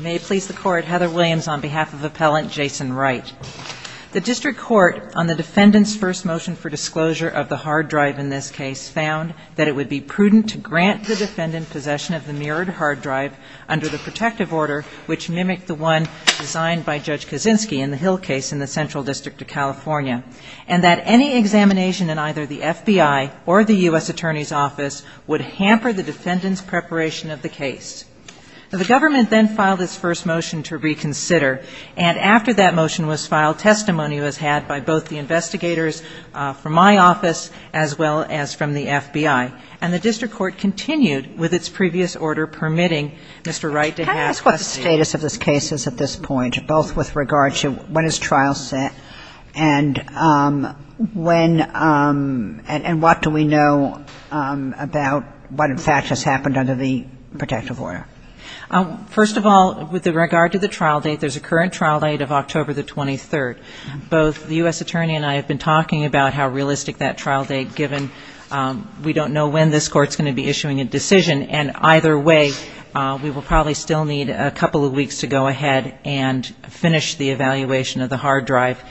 May it please the Court, Heather Williams on behalf of Appellant Jason Wright. The District Court, on the Defendant's first motion for disclosure of the hard drive in grant the Defendant possession of the mirrored hard drive under the protective order, which mimicked the one designed by Judge Kaczynski in the Hill case in the Central District of California, and that any examination in either the FBI or the U.S. Attorney's Office would hamper the Defendant's preparation of the case. The Government then filed its first motion to reconsider, and after that motion was filed, testimony was had by both the investigators from my office as well as from the FBI. And the District Court continued with its previous order permitting Mr. Wright to have testimony. Can I ask what the status of this case is at this point, both with regard to when is trial set and when and what do we know about what in fact has happened under the protective order? First of all, with regard to the trial date, there's a current trial date of October the 23rd. Both the U.S. Attorney and I have been talking about how realistic that trial date, given we don't know when this Court's going to be issuing a decision, and either way, we will probably still need a couple of weeks to go ahead and finish the evaluation of the hard drive,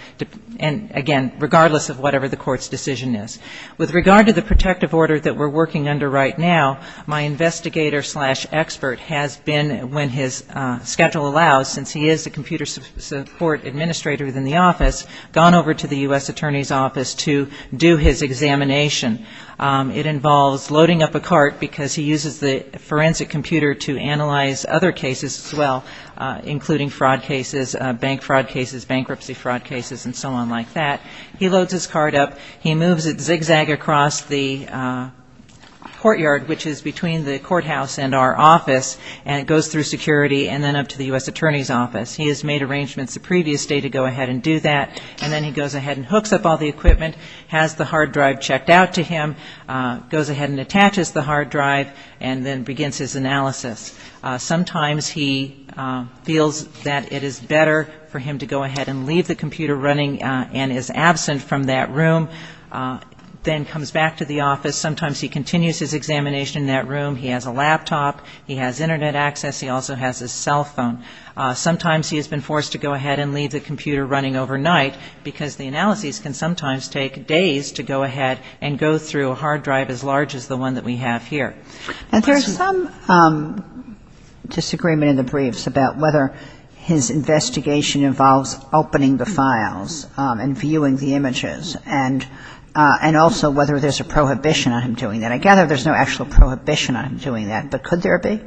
and again, regardless of whatever the Court's decision is. With regard to the protective order that we're working under right now, my investigator-slash-expert has been, when his schedule allows, since he is a computer support administrator within the office, gone over to the U.S. Attorney's office to do his examination. It involves loading up a cart, because he uses the forensic computer to analyze other cases as well, including fraud cases, bank fraud cases, bankruptcy fraud cases, and so on like that. He loads his cart up, he moves it zigzag across the courtyard, which is between the courthouse and our office, and it goes through security and then up to the U.S. Attorney's office. He has made arrangements the previous day to go ahead and do that, and then he goes ahead and hooks up all the equipment, has the hard drive checked out to him, goes ahead and attaches the hard drive, and then begins his analysis. Sometimes he feels that it is better for him to go ahead and leave the computer running and is absent from that room, then comes back to the office. Sometimes he continues his examination in that room. He has a laptop. He has Internet access. He also has his cell phone. Sometimes he has been forced to go ahead and leave the computer running overnight, because the analyses can sometimes take days to go ahead and go through a hard drive as large as the one that we have here. And there is some disagreement in the briefs about whether his investigation involves opening the files and viewing the images, and also whether there is a prohibition on him doing that. I gather there is no actual prohibition on him doing that, but could there be?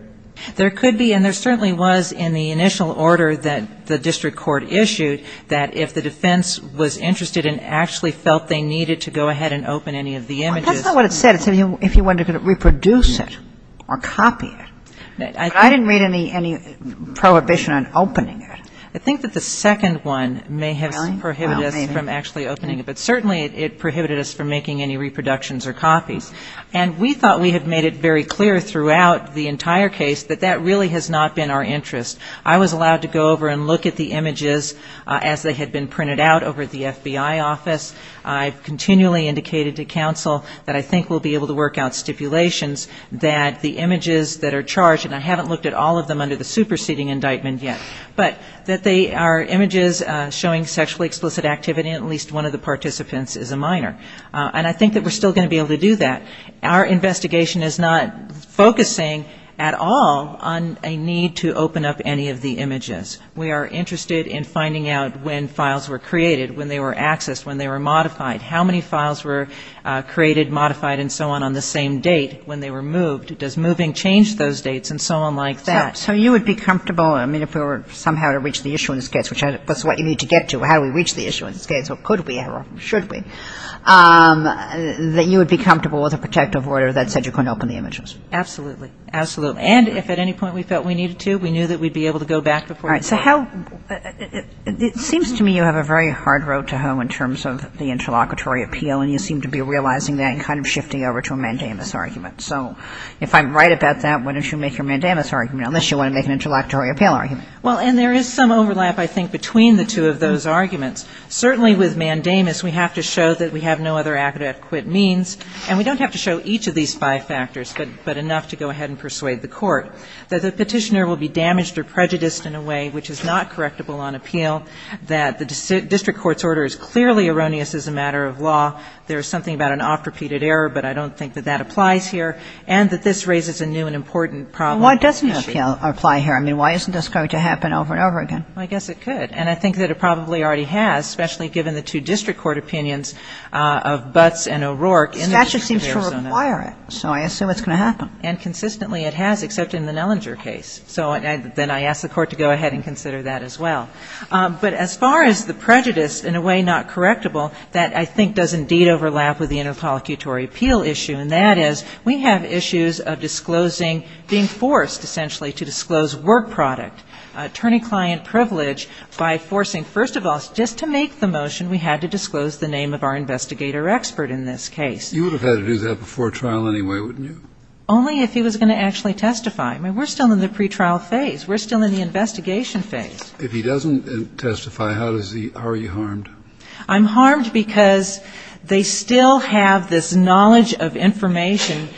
There could be, and there certainly was in the initial order that the district court issued that if the defense was interested and actually felt they needed to go ahead and open any of the images. Well, that's not what it said. It said if you wanted to reproduce it or copy it. I didn't read any prohibition on opening it. I think that the second one may have prohibited us from actually opening it, but certainly it prohibited us from making any reproductions or copies. And we thought we had made it very clear throughout the entire case that that really has not been our interest. I was allowed to go over and look at the images as they had been printed out over at the FBI office. I've continually indicated to counsel that I think we'll be able to work out stipulations that the images that are charged, and I haven't looked at all of them under the superseding indictment yet. But that they are images showing sexually explicit activity, at least one of the participants is a minor. And I think that we're still going to be able to do that. Our investigation is not focusing at all on a need to open up any of the images. We are interested in finding out when files were created, when they were accessed, when they were modified. How many files were created, modified, and so on on the same date when they were moved. Does moving change those dates and so on like that. So you would be comfortable, I mean, if we were somehow to reach the issuance case, which is what you need to get to, how do we reach the issuance case, or could we or should we, that you would be comfortable with a protective order that said you couldn't open the images? Absolutely. Absolutely. And if at any point we felt we needed to, we knew that we'd be able to go back before the court. All right. So how, it seems to me you have a very hard road to hoe in terms of the interlocutory appeal and you seem to be realizing that and kind of shifting over to a mandamus argument. So if I'm right about that, why don't you make your mandamus argument, unless you want to make an interlocutory appeal argument. Well, and there is some overlap, I think, between the two of those arguments. Certainly with mandamus we have to show that we have no other adequate means and we don't have to show each of these five factors, but enough to go ahead and persuade the court. That the petitioner will be damaged or prejudiced in a way which is not correctable on appeal, that the district court's order is clearly erroneous as a matter of law, there is something about an oft-repeated error, but I don't think that that applies here, and that this raises a new and important problem. Well, why doesn't it apply here? I mean, why isn't this going to happen over and over again? Well, I guess it could. And I think that it probably already has, especially given the two district court opinions of Butts and O'Rourke in the case of Arizona. The statute seems to require it, so I assume it's going to happen. And consistently it has, except in the Nellinger case. So then I ask the court to go ahead and consider that as well. But as far as the prejudice in a way not correctable, that I think does indeed overlap with the interpolicatory appeal issue, and that is, we have issues of disclosing, being forced, essentially, to disclose work product, attorney-client privilege, by forcing, first of all, just to make the motion, we had to disclose the name of our investigator expert in this case. You would have had to do that before trial anyway, wouldn't you? Only if he was going to actually testify. I mean, we're still in the pretrial phase. We're still in the investigation phase. If he doesn't testify, how are you harmed? I'm harmed because they still have this knowledge of information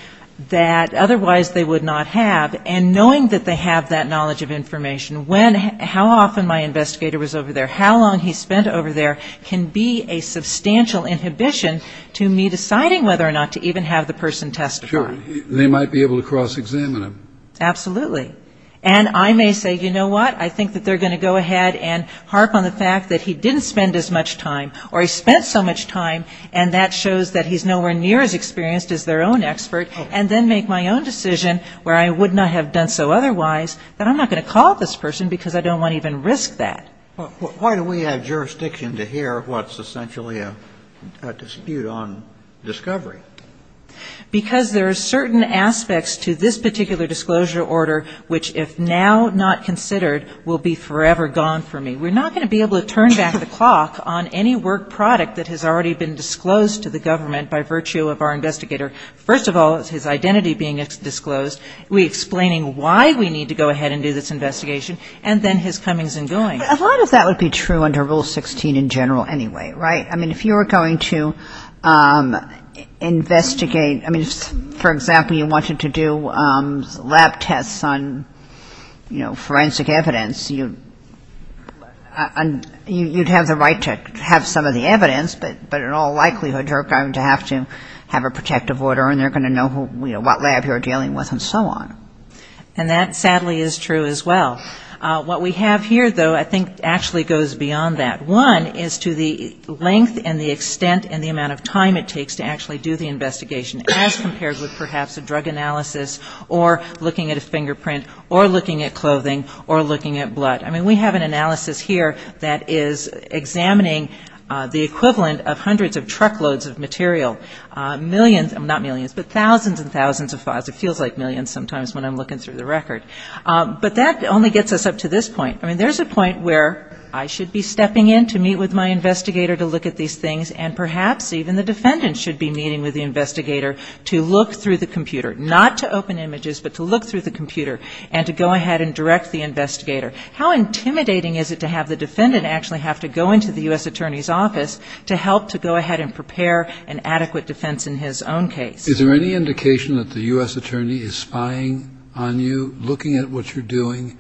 that otherwise they would not have, and knowing that they have that knowledge of information, when, how often my investigator was over there, how long he spent over there, can be a substantial inhibition to me deciding whether or not to even have the person testify. Sure. They might be able to cross-examine him. Absolutely. And I may say, you know what, I think that they're going to go ahead and harp on the time, or he spent so much time, and that shows that he's nowhere near as experienced as their own expert, and then make my own decision where I would not have done so otherwise that I'm not going to call this person because I don't want to even risk that. Why do we have jurisdiction to hear what's essentially a dispute on discovery? Because there are certain aspects to this particular disclosure order which, if now not considered, will be forever gone from me. We're not going to be able to turn back the clock on any work product that has already been disclosed to the government by virtue of our investigator, first of all, his identity being disclosed, we explaining why we need to go ahead and do this investigation, and then his comings and goings. A lot of that would be true under Rule 16 in general anyway, right? I mean, if you were going to investigate, I mean, for example, you wanted to do lab tests on, you know, forensic evidence, you'd have the right to have some of the evidence, but in all likelihood, you're going to have to have a protective order, and they're going to know, you know, what lab you're dealing with and so on. And that sadly is true as well. What we have here, though, I think actually goes beyond that. One is to the length and the extent and the amount of time it takes to actually do the fingerprint or looking at clothing or looking at blood. I mean, we have an analysis here that is examining the equivalent of hundreds of truckloads of material, millions, not millions, but thousands and thousands of files. It feels like millions sometimes when I'm looking through the record. But that only gets us up to this point. I mean, there's a point where I should be stepping in to meet with my investigator to look at these things, and perhaps even the defendant should be meeting with the investigator to look through the computer, not to open images, but to look through the computer and to go ahead and direct the investigator. How intimidating is it to have the defendant actually have to go into the U.S. attorney's office to help to go ahead and prepare an adequate defense in his own case? Is there any indication that the U.S. attorney is spying on you, looking at what you're doing,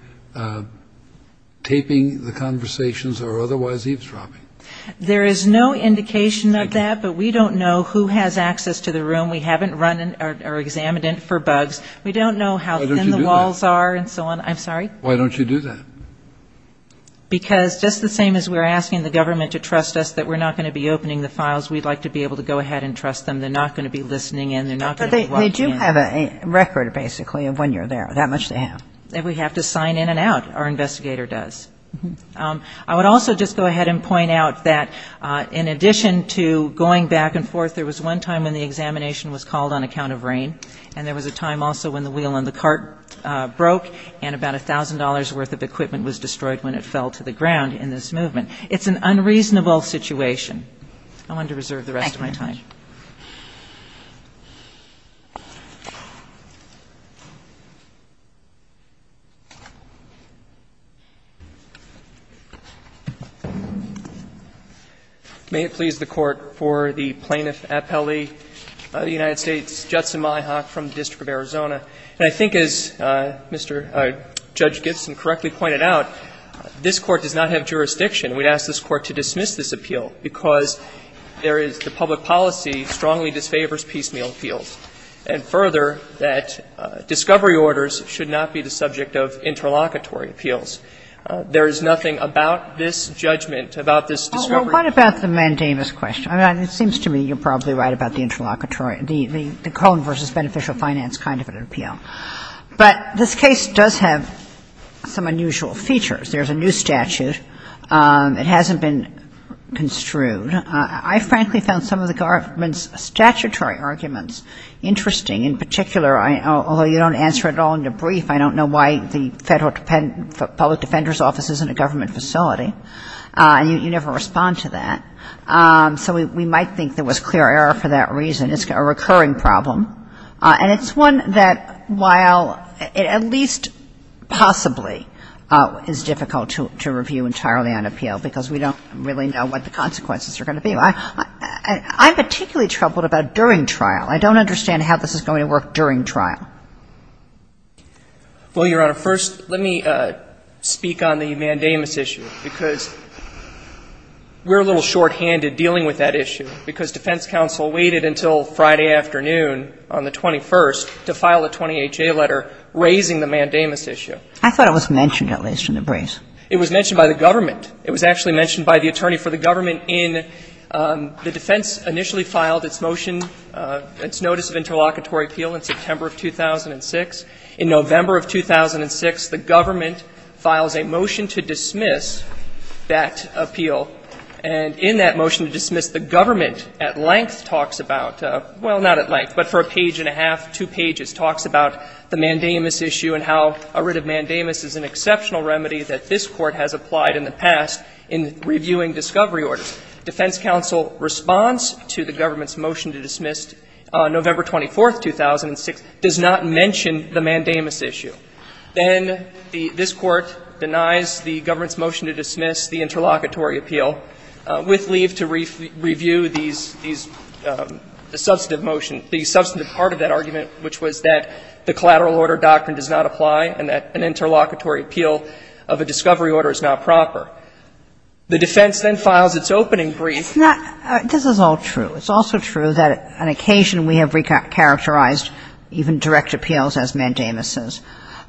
taping the conversations or otherwise eavesdropping? There is no indication of that, but we don't know who has access to the room. We haven't run or examined it for bugs. We don't know how thin the walls are and so on. I'm sorry? Why don't you do that? Because just the same as we're asking the government to trust us that we're not going to be opening the files, we'd like to be able to go ahead and trust them. They're not going to be listening in. They're not going to be watching in. But they do have a record, basically, of when you're there. That much they have. We have to sign in and out. Our investigator does. I would also just go ahead and point out that in addition to going back and forth, there was one time when the examination was called on account of rain, and there was a time also when the wheel on the cart broke and about $1,000 worth of equipment was destroyed when it fell to the ground in this movement. It's an unreasonable situation. I want to reserve the rest of my time. May it please the Court for the Plaintiff appellee of the United States, Judson Myhock, from the District of Arizona. And I think as Mr. Judge Gibson correctly pointed out, this Court does not have jurisdiction. We'd ask this Court to dismiss this appeal because there is the public policy of the disfavors piecemeal appeals, and further, that discovery orders should not be the subject of interlocutory appeals. There is nothing about this judgment, about this discovery order. Kagan. Well, what about the mandamus question? I mean, it seems to me you're probably right about the interlocutory or the Cohen v. Beneficial Finance kind of an appeal. But this case does have some unusual features. There's a new statute. It hasn't been construed. I frankly found some of the government's statutory arguments interesting. In particular, although you don't answer it all in your brief, I don't know why the Public Defender's Office isn't a government facility, and you never respond to that. So we might think there was clear error for that reason. It's a recurring problem, and it's one that while it at least possibly is difficult to figure out how it's going to be, I'm particularly troubled about during trial. I don't understand how this is going to work during trial. Well, Your Honor, first let me speak on the mandamus issue, because we're a little shorthanded dealing with that issue, because defense counsel waited until Friday afternoon on the 21st to file a 28-J letter raising the mandamus issue. I thought it was mentioned at least in the brief. It was mentioned by the government. It was actually mentioned by the attorney for the government in the defense initially filed its motion, its notice of interlocutory appeal in September of 2006. In November of 2006, the government files a motion to dismiss that appeal. And in that motion to dismiss, the government at length talks about – well, not at length, but for a page and a half, two pages – talks about the mandamus issue and how a writ of mandamus is an exceptional remedy that this Court has applied in the past in reviewing discovery orders. Defense counsel responds to the government's motion to dismiss November 24th, 2006, does not mention the mandamus issue. Then this Court denies the government's motion to dismiss the interlocutory appeal with leave to review these – the substantive motion – the substantive part of that argument, which was that the collateral order doctrine does not apply and that an interlocutory appeal of a discovery order is not proper. The defense then files its opening brief. It's not – this is all true. It's also true that on occasion we have re-characterized even direct appeals as mandamuses.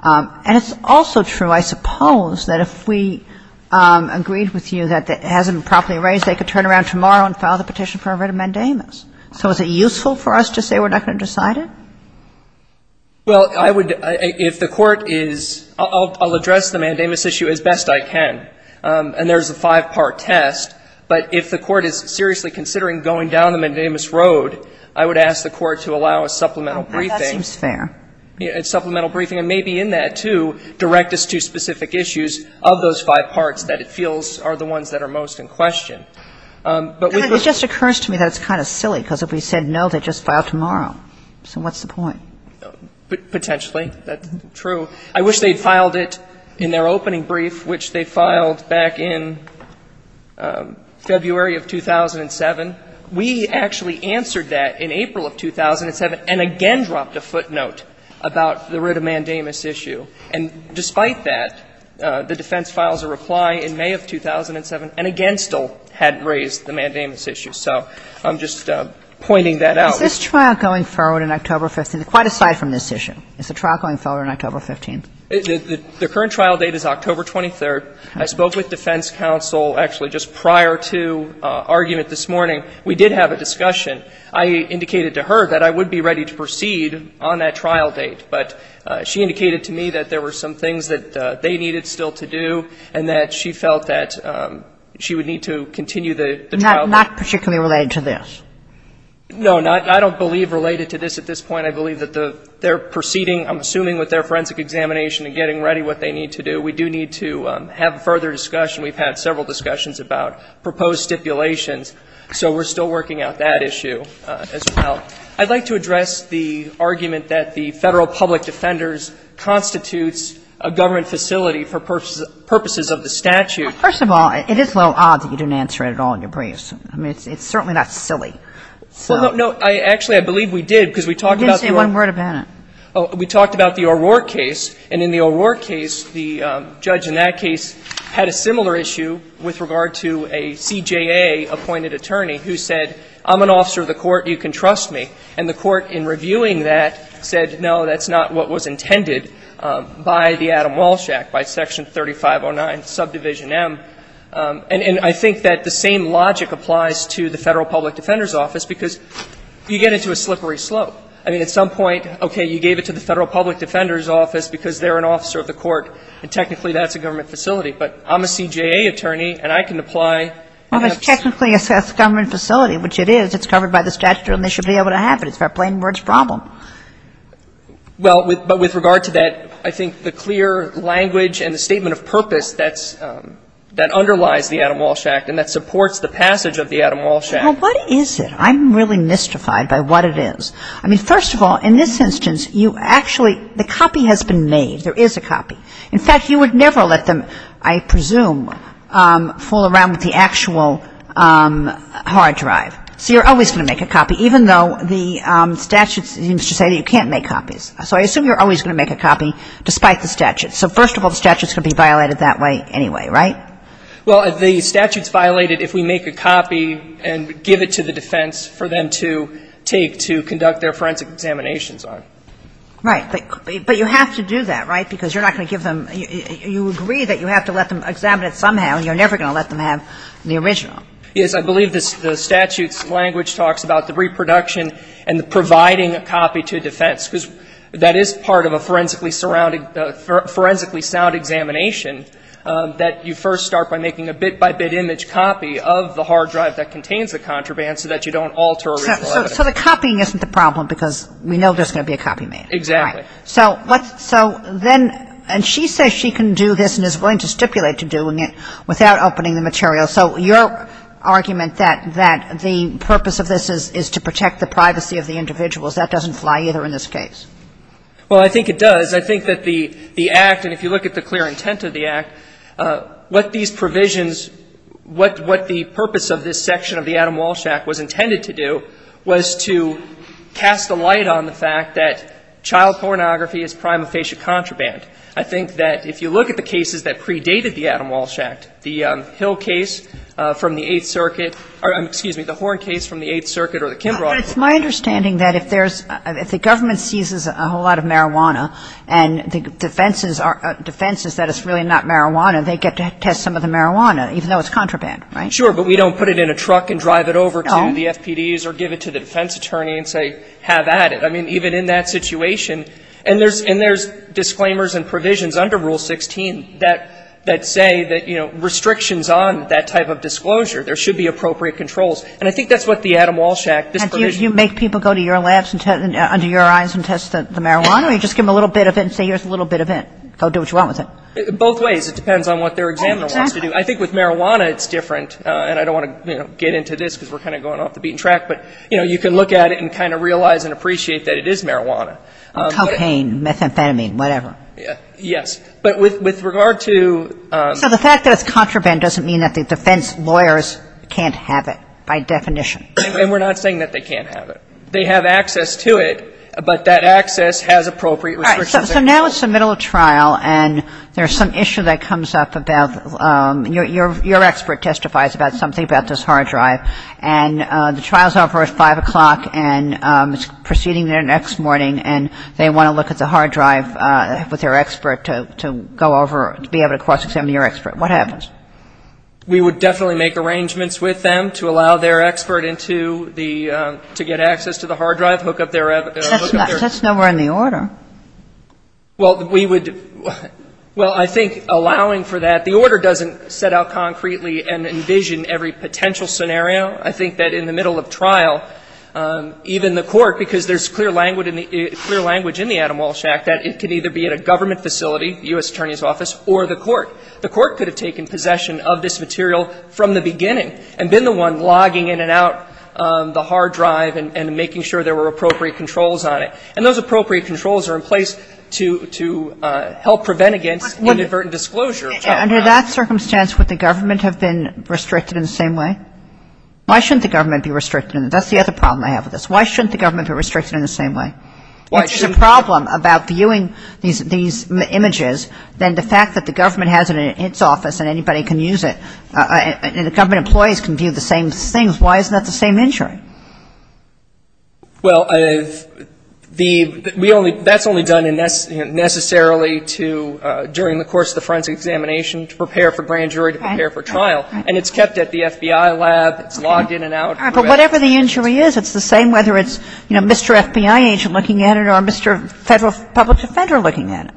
And it's also true, I suppose, that if we agreed with you that it hasn't been properly raised, they could turn around tomorrow and file the petition for a writ of mandamus. So is it useful for us to say we're not going to decide it? Well, I would – if the Court is – I'll address the mandamus issue as best I can. And there's a five-part test. But if the Court is seriously considering going down the mandamus road, I would ask the Court to allow a supplemental briefing. That seems fair. A supplemental briefing. And maybe in that, too, direct us to specific issues of those five parts that it feels are the ones that are most in question. But we would – It just occurs to me that it's kind of silly, because if we said no, they'd just file tomorrow. So what's the point? Potentially. That's true. I wish they'd filed it in their opening brief, which they filed back in February of 2007. We actually answered that in April of 2007 and again dropped a footnote about the writ of mandamus issue. And despite that, the defense files a reply in May of 2007 and again still hadn't raised the mandamus issue. So I'm just pointing that out. Is this trial going forward on October 15th? Quite aside from this issue, is the trial going forward on October 15th? The current trial date is October 23rd. I spoke with defense counsel actually just prior to argument this morning. We did have a discussion. I indicated to her that I would be ready to proceed on that trial date. But she indicated to me that there were some things that they needed still to do and that she felt that she would need to continue the trial date. Not particularly related to this? No, not – I don't believe related to this at this point. I believe that they're proceeding, I'm assuming, with their forensic examination and getting ready what they need to do. We do need to have further discussion. We've had several discussions about proposed stipulations. So we're still working out that issue as well. I'd like to address the argument that the Federal Public Defenders constitutes a government facility for purposes of the statute. First of all, it is a little odd that you didn't answer it at all in your briefs. I mean, it's certainly not silly. Well, no, actually, I believe we did, because we talked about the O'Rourke case. And in the O'Rourke case, the judge in that case had a similar issue with regard to a CJA-appointed attorney who said, I'm an officer of the court. You can trust me. And the court, in reviewing that, said, no, that's not what was intended by the Adam Walsh Act, by Section 3509, Subdivision M. And I think that the same logic applies to the Federal Public Defenders Office, because you get into a slippery slope. I mean, at some point, okay, you gave it to the Federal Public Defenders Office because they're an officer of the court, and technically that's a government facility. But I'm a CJA attorney, and I can apply. Well, it's technically a government facility, which it is. It's covered by the statute, and they should be able to have it. It's a plain-words problem. Well, but with regard to that, I think the clear language and the statement of purpose that's underlies the Adam Walsh Act and that supports the passage of the Adam Walsh Act. Well, what is it? I'm really mystified by what it is. I mean, first of all, in this instance, you actually – the copy has been made. There is a copy. In fact, you would never let them, I presume, fool around with the actual hard drive. So you're always going to make a copy, even though the statute seems to say that you can't make copies. So I assume you're always going to make a copy, despite the statute. So first of all, the statute's going to be violated that way anyway, right? Well, the statute's violated if we make a copy and give it to the defense for them to take to conduct their forensic examinations on. Right. But you have to do that, right? Because you're not going to give them – you agree that you have to let them examine it somehow, and you're never going to let them have the original. Yes. I believe the statute's language talks about the reproduction and the providing a copy to defense, because that is part of a forensically surrounding – forensically sound examination that you first start by making a bit-by-bit image copy of the hard drive that contains the contraband so that you don't alter original evidence. So the copying isn't the problem because we know there's going to be a copy made. Exactly. Right. So what's – so then – and she says she can do this and is willing to stipulate to doing it without opening the material. So your argument that the purpose of this is to protect the privacy of the individuals, that doesn't fly either in this case. Well, I think it does. I think that the act – and if you look at the clear intent of the act, what these provisions – what the purpose of this section of the Adam Walsh Act was intended to do was to cast a light on the fact that child pornography is prima facie contraband. I think that if you look at the cases that predated the Adam Walsh Act, the Hill case from the Eighth Circuit – or, excuse me, the Horne case from the Eighth Circuit or the Kimbrough case. But it's my understanding that if there's – if the government seizes a whole lot of marijuana and the defense is that it's really not marijuana, they get to test some of the marijuana, even though it's contraband, right? Sure. But we don't put it in a truck and drive it over to the FPDs or give it to the defense attorney and say, have at it. I mean, even in that situation – and there's disclaimers and provisions under Rule 16 that say that, you know, restrictions on that type of disclosure, there should be appropriate controls. And I think that's what the Adam Walsh Act, this provision – And do you make people go to your labs and test – under your eyes and test the marijuana or you just give them a little bit of it and say, here's a little bit of it, go do what Both ways. It depends on what their examiner wants to do. Exactly. And I think with marijuana, it's different, and I don't want to, you know, get into this because we're kind of going off the beaten track, but, you know, you can look at it and kind of realize and appreciate that it is marijuana. Cocaine, methamphetamine, whatever. Yes. But with regard to – So the fact that it's contraband doesn't mean that the defense lawyers can't have it by definition. And we're not saying that they can't have it. They have access to it, but that access has appropriate restrictions. So now it's the middle of trial, and there's some issue that comes up about – your expert testifies about something about this hard drive, and the trial's over at 5 o'clock, and it's proceeding there next morning, and they want to look at the hard drive with their expert to go over – to be able to cross-examine your expert. What happens? We would definitely make arrangements with them to allow their expert into the – to get access to the hard drive, hook up their – That's nowhere in the order. Well, we would – well, I think allowing for that – the order doesn't set out concretely and envision every potential scenario. I think that in the middle of trial, even the Court, because there's clear language in the Adam Walsh Act that it can either be at a government facility, the U.S. Attorney's Office, or the Court. The Court could have taken possession of this material from the beginning and been the one logging in and out the hard drive and making sure there were appropriate controls on it. And those appropriate controls are in place to help prevent against inadvertent disclosure of the hard drive. Under that circumstance, would the government have been restricted in the same way? Why shouldn't the government be restricted in – that's the other problem I have with this. Why shouldn't the government be restricted in the same way? Why shouldn't – If there's a problem about viewing these images, then the fact that the government has it in its office and anybody can use it, and the government employees can view the same things, why isn't that the same injury? Well, the – we only – that's only done in – necessarily to – during the course of the forensic examination to prepare for grand jury, to prepare for trial. And it's kept at the FBI lab. It's logged in and out. All right. But whatever the injury is, it's the same whether it's, you know, Mr. FBI agent looking at it or Mr. Federal public defender looking at it.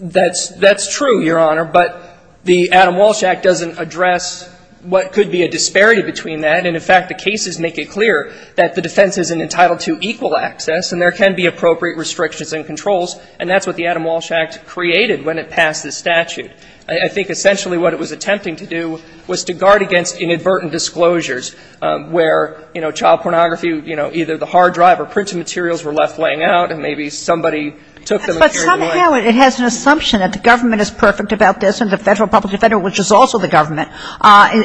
That's – that's true, Your Honor. But the Adam Walsh Act doesn't address what could be a disparity between that. And in fact, the cases make it clear that the defense isn't entitled to equal access and there can be appropriate restrictions and controls. And that's what the Adam Walsh Act created when it passed this statute. I think essentially what it was attempting to do was to guard against inadvertent disclosures where, you know, child pornography, you know, either the hard drive or printed materials were left laying out and maybe somebody took them and carried them away. But somehow it has an assumption that the government is perfect about this and the Federal public defender, which is also the government,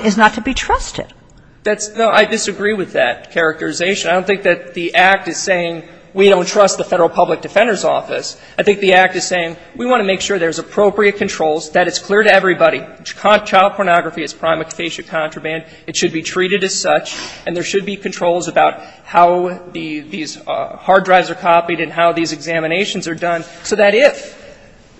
is not to be trusted. That's – no, I disagree with that characterization. I don't think that the Act is saying we don't trust the Federal public defender's office. I think the Act is saying we want to make sure there's appropriate controls, that it's clear to everybody. Child pornography is a prime occasion contraband. It should be treated as such. And there should be controls about how these hard drives are copied and how these examinations are done so that if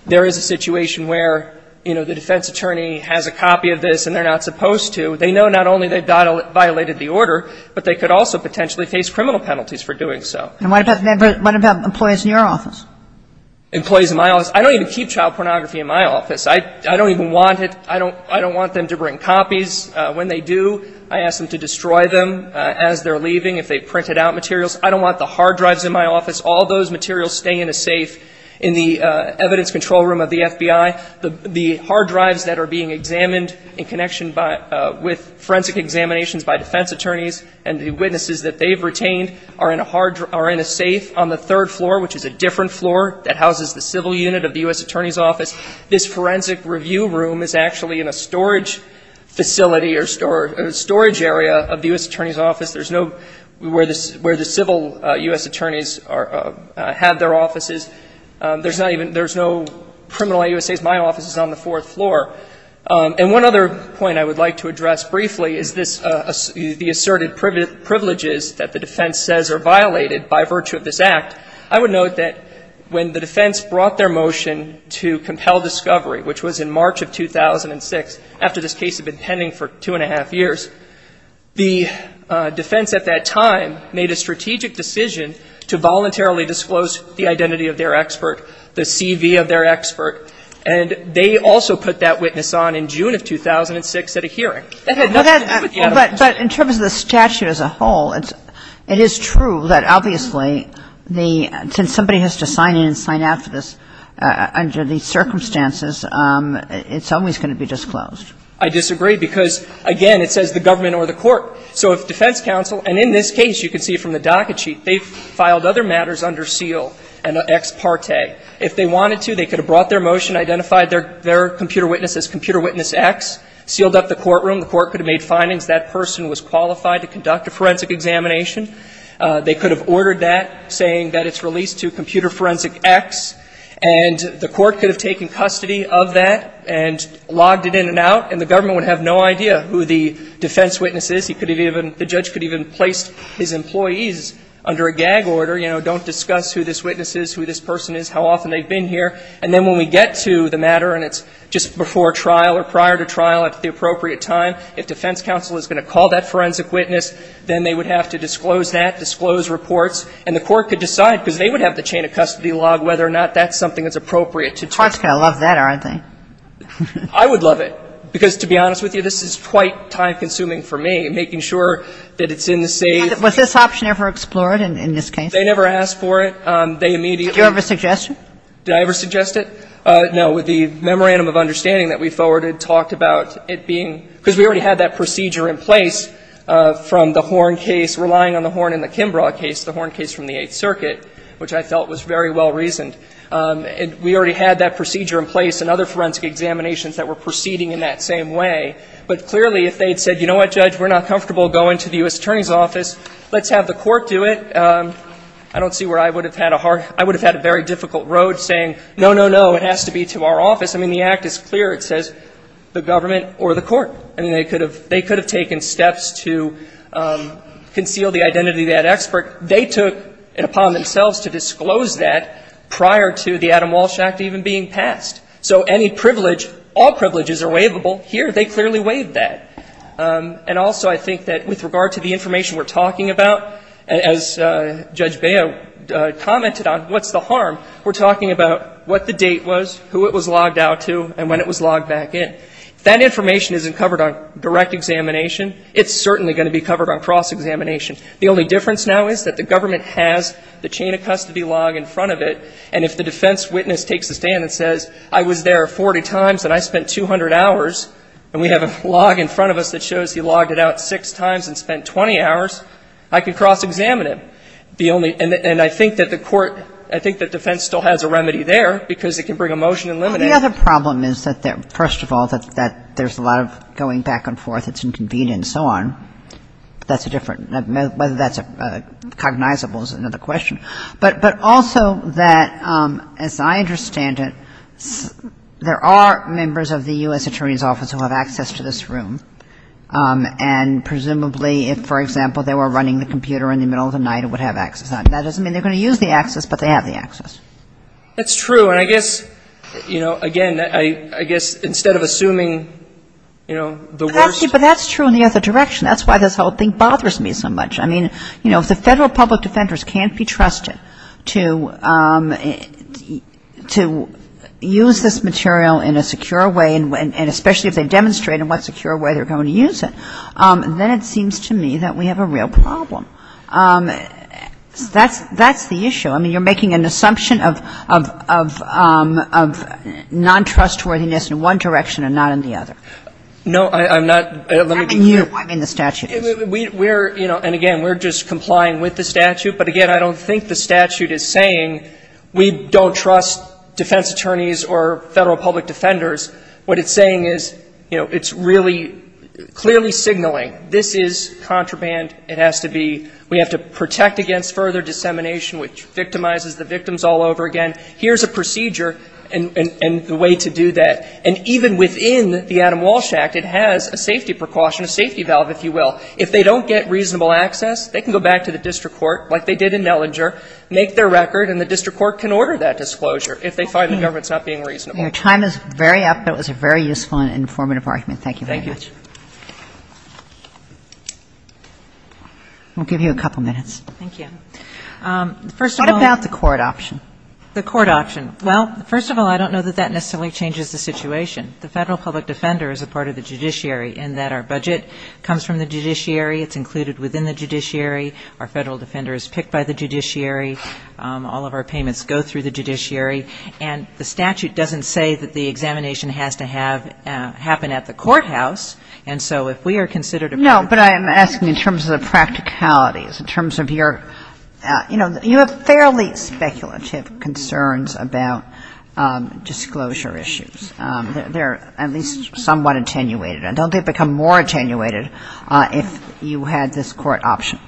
there is a situation where, you know, the defense attorney has a copy of this and they're not supposed to, they know not only they violated the order, but they could also potentially face criminal penalties for doing so. And what about employees in your office? Employees in my office? I don't even keep child pornography in my office. I don't even want it. I don't want them to bring copies. When they do, I ask them to destroy them as they're leaving if they've printed out materials. I don't want the hard drives in my office. All those materials stay in a safe in the evidence control room of the FBI. The hard drives that are being examined in connection with forensic examinations by defense attorneys and the witnesses that they've retained are in a safe on the third floor, which is a different floor that houses the civil unit of the U.S. Attorney's Office. This forensic review room is actually in a storage facility or a storage area of the U.S. Attorney's Office. There's no where the civil U.S. attorneys have their offices. There's no criminal I. U.S. A's. My office is on the fourth floor. And one other point I would like to address briefly is this, the asserted privileges that the defense says are violated by virtue of this act. I would note that when the defense brought their motion to compel discovery, which was in March of 2006, after this case had been pending for two and a half years, the defense at that time made a strategic decision to voluntarily disclose the identity of their expert, the CV of their expert. And they also put that witness on in June of 2006 at a hearing. That had nothing to do with the evidence. But in terms of the statute as a whole, it is true that obviously the – since somebody has to sign in and sign out for this under these circumstances, it's always going to be disclosed. I disagree because, again, it says the government or the court. So if defense counsel – and in this case, you can see from the docket sheet, they filed other matters under seal and ex parte. If they wanted to, they could have brought their motion, identified their computer witness as Computer Witness X, sealed up the courtroom. The court could have made findings that person was qualified to conduct a forensic examination. They could have ordered that, saying that it's released to Computer Forensic X. And the court could have taken custody of that and logged it in and out. And the government would have no idea who the defense witness is. The judge could have even placed his employees under a gag order, you know, don't discuss who this witness is, who this person is, how often they've been here. And then when we get to the matter and it's just before trial or prior to trial at the appropriate time, if defense counsel is going to call that forensic witness, then they would have to disclose that, disclose reports. And the court could decide because they would have the chain of custody log whether or not that's something that's appropriate to do. The court's going to love that, aren't they? I would love it. Because to be honest with you, this is quite time consuming for me. And making sure that it's in the safe. Was this option ever explored in this case? They never asked for it. They immediately. Did you ever suggest it? Did I ever suggest it? No. The memorandum of understanding that we forwarded talked about it being, because we already had that procedure in place from the Horn case, relying on the Horn and the Kimbrough case, the Horn case from the Eighth Circuit, which I felt was very well reasoned. And we already had that procedure in place and other forensic examinations that were proceeding in that same way. But clearly, if they had said, you know what, Judge, we're not comfortable going to the U.S. Attorney's Office. Let's have the court do it. I don't see where I would have had a hard, I would have had a very difficult road saying, no, no, no, it has to be to our office. I mean, the Act is clear. It says the government or the court. I mean, they could have taken steps to conceal the identity of that expert. They took it upon themselves to disclose that prior to the Adam Walsh Act even being passed. So any privilege, all privileges are waivable. Here, they clearly waived that. And also, I think that with regard to the information we're talking about, as Judge Baio commented on, what's the harm? We're talking about what the date was, who it was logged out to, and when it was logged back in. If that information isn't covered on direct examination, it's certainly going to be covered on cross-examination. The only difference now is that the government has the chain of custody log in front of it, and if the defense witness takes a stand and says, I was there 40 times and I spent 200 hours and we have a log in front of us that shows he logged it out six times and spent 20 hours, I can cross-examine it. And I think that the court, I think that defense still has a remedy there because it can bring a motion and limit it. The other problem is that, first of all, that there's a lot of going back and forth. It's inconvenient and so on. That's a different, whether that's cognizable is another question. But also that, as I understand it, there are members of the U.S. Attorney's Office who have access to this room. And presumably if, for example, they were running the computer in the middle of the night, it would have access. That doesn't mean they're going to use the access, but they have the access. That's true. And I guess, you know, again, I guess instead of assuming, you know, the worst But that's true in the other direction. That's why this whole thing bothers me so much. I mean, you know, if the Federal public defenders can't be trusted to use this material in a secure way, and especially if they demonstrate in what secure way they're going to use it, then it seems to me that we have a real problem. That's the issue. I mean, you're making an assumption of non-trustworthiness in one direction and not in the other. No, I'm not. Let me be clear. And you. I mean, the statute is. We're, you know, and again, we're just complying with the statute. But again, I don't think the statute is saying we don't trust defense attorneys or Federal public defenders. What it's saying is, you know, it's really clearly signaling this is contraband. It has to be. We have to protect against further dissemination, which victimizes the victims all over again. Here's a procedure and the way to do that. And even within the Adam Walsh Act, it has a safety precaution, a safety valve, if you will. If they don't get reasonable access, they can go back to the district court, like they did in Mellinger, make their record, and the district court can order that disclosure if they find the government's not being reasonable. Your time is very up. That was a very useful and informative argument. Thank you very much. Thank you. I'll give you a couple minutes. Thank you. First of all. What about the court option? The court option. Well, first of all, I don't know that that necessarily changes the situation. The federal public defender is a part of the judiciary in that our budget comes from the judiciary. It's included within the judiciary. Our federal defender is picked by the judiciary. All of our payments go through the judiciary. And the statute doesn't say that the examination has to happen at the courthouse. And so if we are considered a part of the judiciary. No, but I am asking in terms of the practicalities, in terms of your, you know, you have fairly speculative concerns about disclosure issues. They're at least somewhat attenuated. And don't they become more attenuated if you had this court option?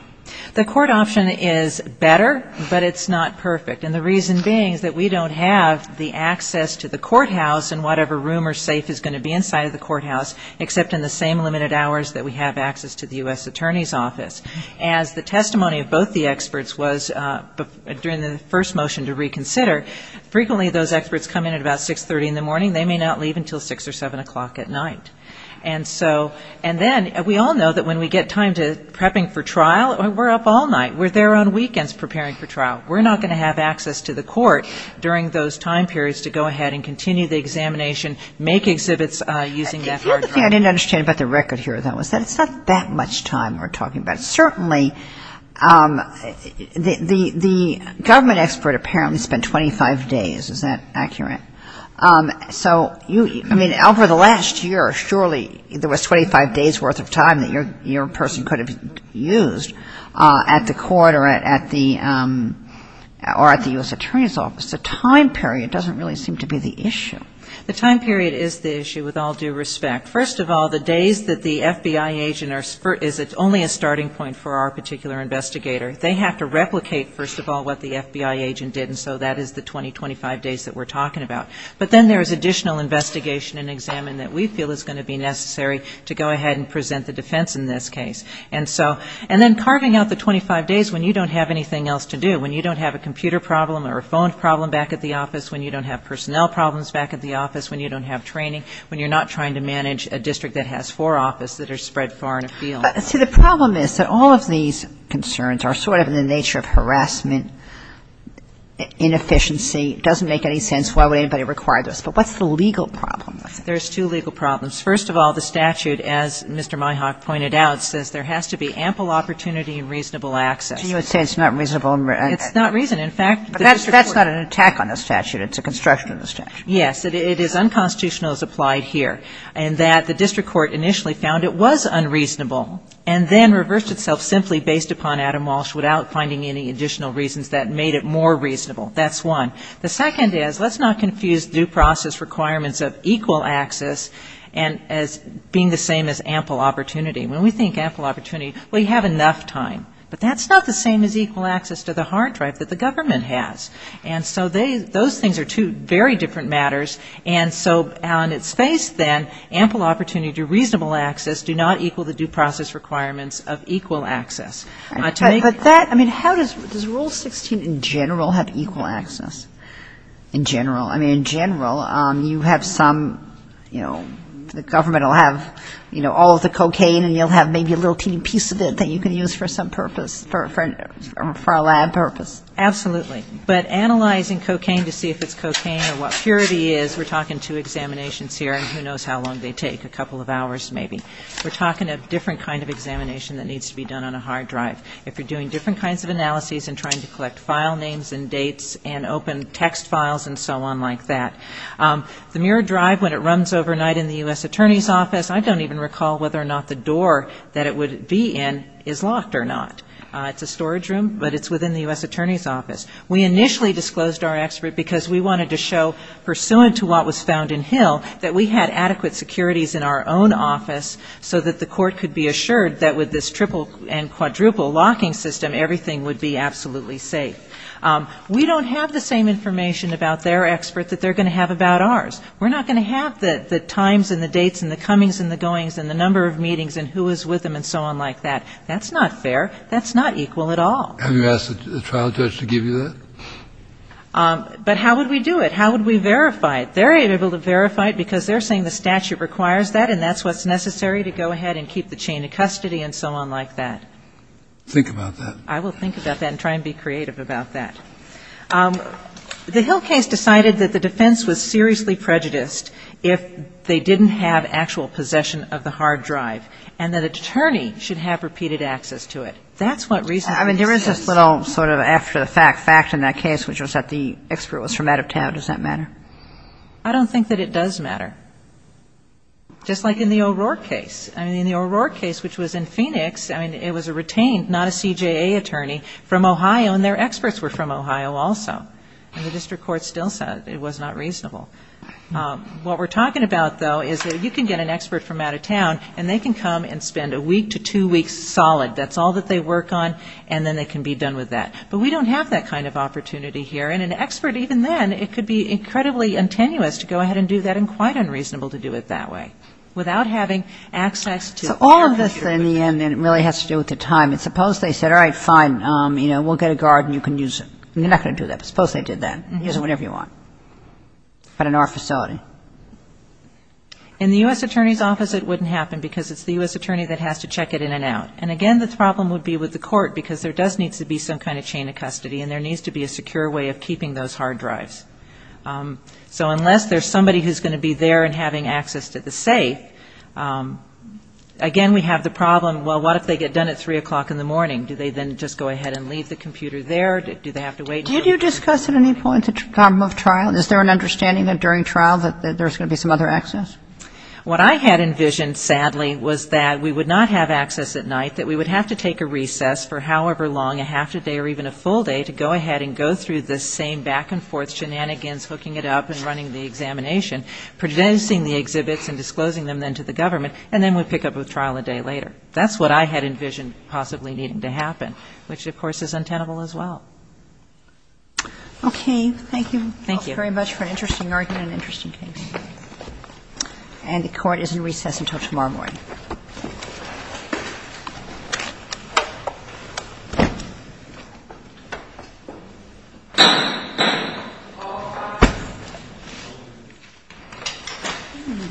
The court option is better, but it's not perfect. And the reason being is that we don't have the access to the courthouse and whatever room or safe is going to be inside of the courthouse, except in the same limited hours that we have access to the U.S. Attorney's Office. As the testimony of both the experts was during the first motion to reconsider, frequently those experts come in at about 630 in the morning. They may not leave until 6 or 7 o'clock at night. And so, and then we all know that when we get time to prepping for trial, we're up all night. We're there on weekends preparing for trial. We're not going to have access to the court during those time periods to go ahead and continue the examination, make exhibits using that hard drive. The other thing I didn't understand about the record here, though, is that it's not that much time we're talking about. Certainly the government expert apparently spent 25 days. Is that accurate? So you, I mean, over the last year, surely there was 25 days' worth of time that your person could have used at the court or at the U.S. Attorney's Office. The time period doesn't really seem to be the issue. The time period is the issue with all due respect. First of all, the days that the FBI agent is only a starting point for our particular investigator. They have to replicate, first of all, what the FBI agent did. And so that is the 20, 25 days that we're talking about. But then there is additional investigation and examine that we feel is going to be necessary to go ahead and present the defense in this case. And so, and then carving out the 25 days when you don't have anything else to do, when you don't have a computer problem or a phone problem back at the office, when you don't have personnel problems back at the office, when you don't have training, when you're not trying to manage a district that has four offices that are spread far and afield. See, the problem is that all of these concerns are sort of in the nature of harassment, inefficiency. It doesn't make any sense. Why would anybody require this? But what's the legal problem? There's two legal problems. First of all, the statute, as Mr. Myhock pointed out, says there has to be ample opportunity and reasonable access. So you would say it's not reasonable? It's not reasonable. In fact, the district court… But that's not an attack on the statute. It's a construction of the statute. Yes. It is unconstitutional as applied here. And that the district court initially found it was unreasonable and then reversed itself simply based upon Adam Walsh without finding any additional reasons that made it more reasonable. That's one. The second is let's not confuse due process requirements of equal access and as being the same as ample opportunity. When we think ample opportunity, well, you have enough time. But that's not the same as equal access to the hard drive that the government has. And so those things are two very different matters. And so on its face, then, ample opportunity to reasonable access do not equal the due process requirements of equal access. But that, I mean, how does Rule 16 in general have equal access? In general. I mean, in general, you have some, you know, the government will have, you know, all of the cocaine and you'll have maybe a little teeny piece of it that you can use for some purpose, for a lab purpose. Absolutely. But analyzing cocaine to see if it's cocaine or what purity is, we're talking two examinations here and who knows how long they take, a couple of hours maybe. We're talking a different kind of examination that needs to be done on a hard drive. If you're doing different kinds of analyses and trying to collect file names and dates and open text files and so on like that. The mirrored drive, when it runs overnight in the U.S. Attorney's Office, I don't even recall whether or not the door that it would be in is locked or not. It's a storage room, but it's within the U.S. Attorney's Office. We initially disclosed our expert because we wanted to show, pursuant to what was found in Hill, that we had adequate securities in our own office so that the court could be assured that with this triple and quadruple locking system, everything would be absolutely safe. We don't have the same information about their expert that they're going to have about ours. We're not going to have the times and the dates and the comings and the goings and the number of meetings and who is with them and so on like that. That's not fair. That's not equal at all. Have you asked the trial judge to give you that? But how would we do it? How would we verify it? They're able to verify it because they're saying the statute requires that and that's what's necessary to go ahead and keep the chain of custody and so on like that. Think about that. I will think about that and try and be creative about that. The Hill case decided that the defense was seriously prejudiced if they didn't have actual possession of the hard drive and that an attorney should have repeated access to it. That's what reasonableness is. I mean, there is this little sort of after the fact fact in that case which was that the expert was from out of town. Does that matter? I don't think that it does matter. Just like in the O'Rourke case. In the O'Rourke case, which was in Phoenix, it was a retained, not a CJA attorney, from Ohio and their experts were from Ohio also. The district court still said it was not reasonable. What we're talking about, though, is that you can get an expert from out of town and they can come and spend a week to two weeks solid. That's all that they work on and then they can be done with that. But we don't have that kind of opportunity here and an expert even then, it could be incredibly untenuous to go ahead and do that and quite unreasonable to do it that way without having access to their computer. So all of this in the end really has to do with the time. Suppose they said, all right, fine, we'll get a guard and you can use it. They're not going to do that, but suppose they did that. Use it whenever you want, but in our facility. In the U.S. Attorney's Office, it wouldn't happen because it's the U.S. attorney that has to check it in and out. And again, the problem would be with the court because there does need to be some kind of chain of custody and there needs to be a secure way of keeping those hard drives. So unless there's somebody who's going to be there and having access to the safe, again, we have the problem, well, what if they get done at 3 o'clock in the morning? Do they then just go ahead and leave the computer there? Do they have to wait? Did you discuss at any point the problem of trial? Is there an understanding that during trial that there's going to be some other access? What I had envisioned, sadly, was that we would not have access at night, that we would have to take a recess for however long, a half a day or even a full day, to go ahead and go through the same back and forth shenanigans, hooking it up and running the examination, producing the exhibits and disclosing them then to the government, and then we'd pick up with trial a day later. That's what I had envisioned possibly needing to happen, which, of course, is untenable as well. Okay. Thank you. Thank you. Thank you very much for an interesting argument and interesting case. And the Court is in recess until tomorrow morning. Thank you.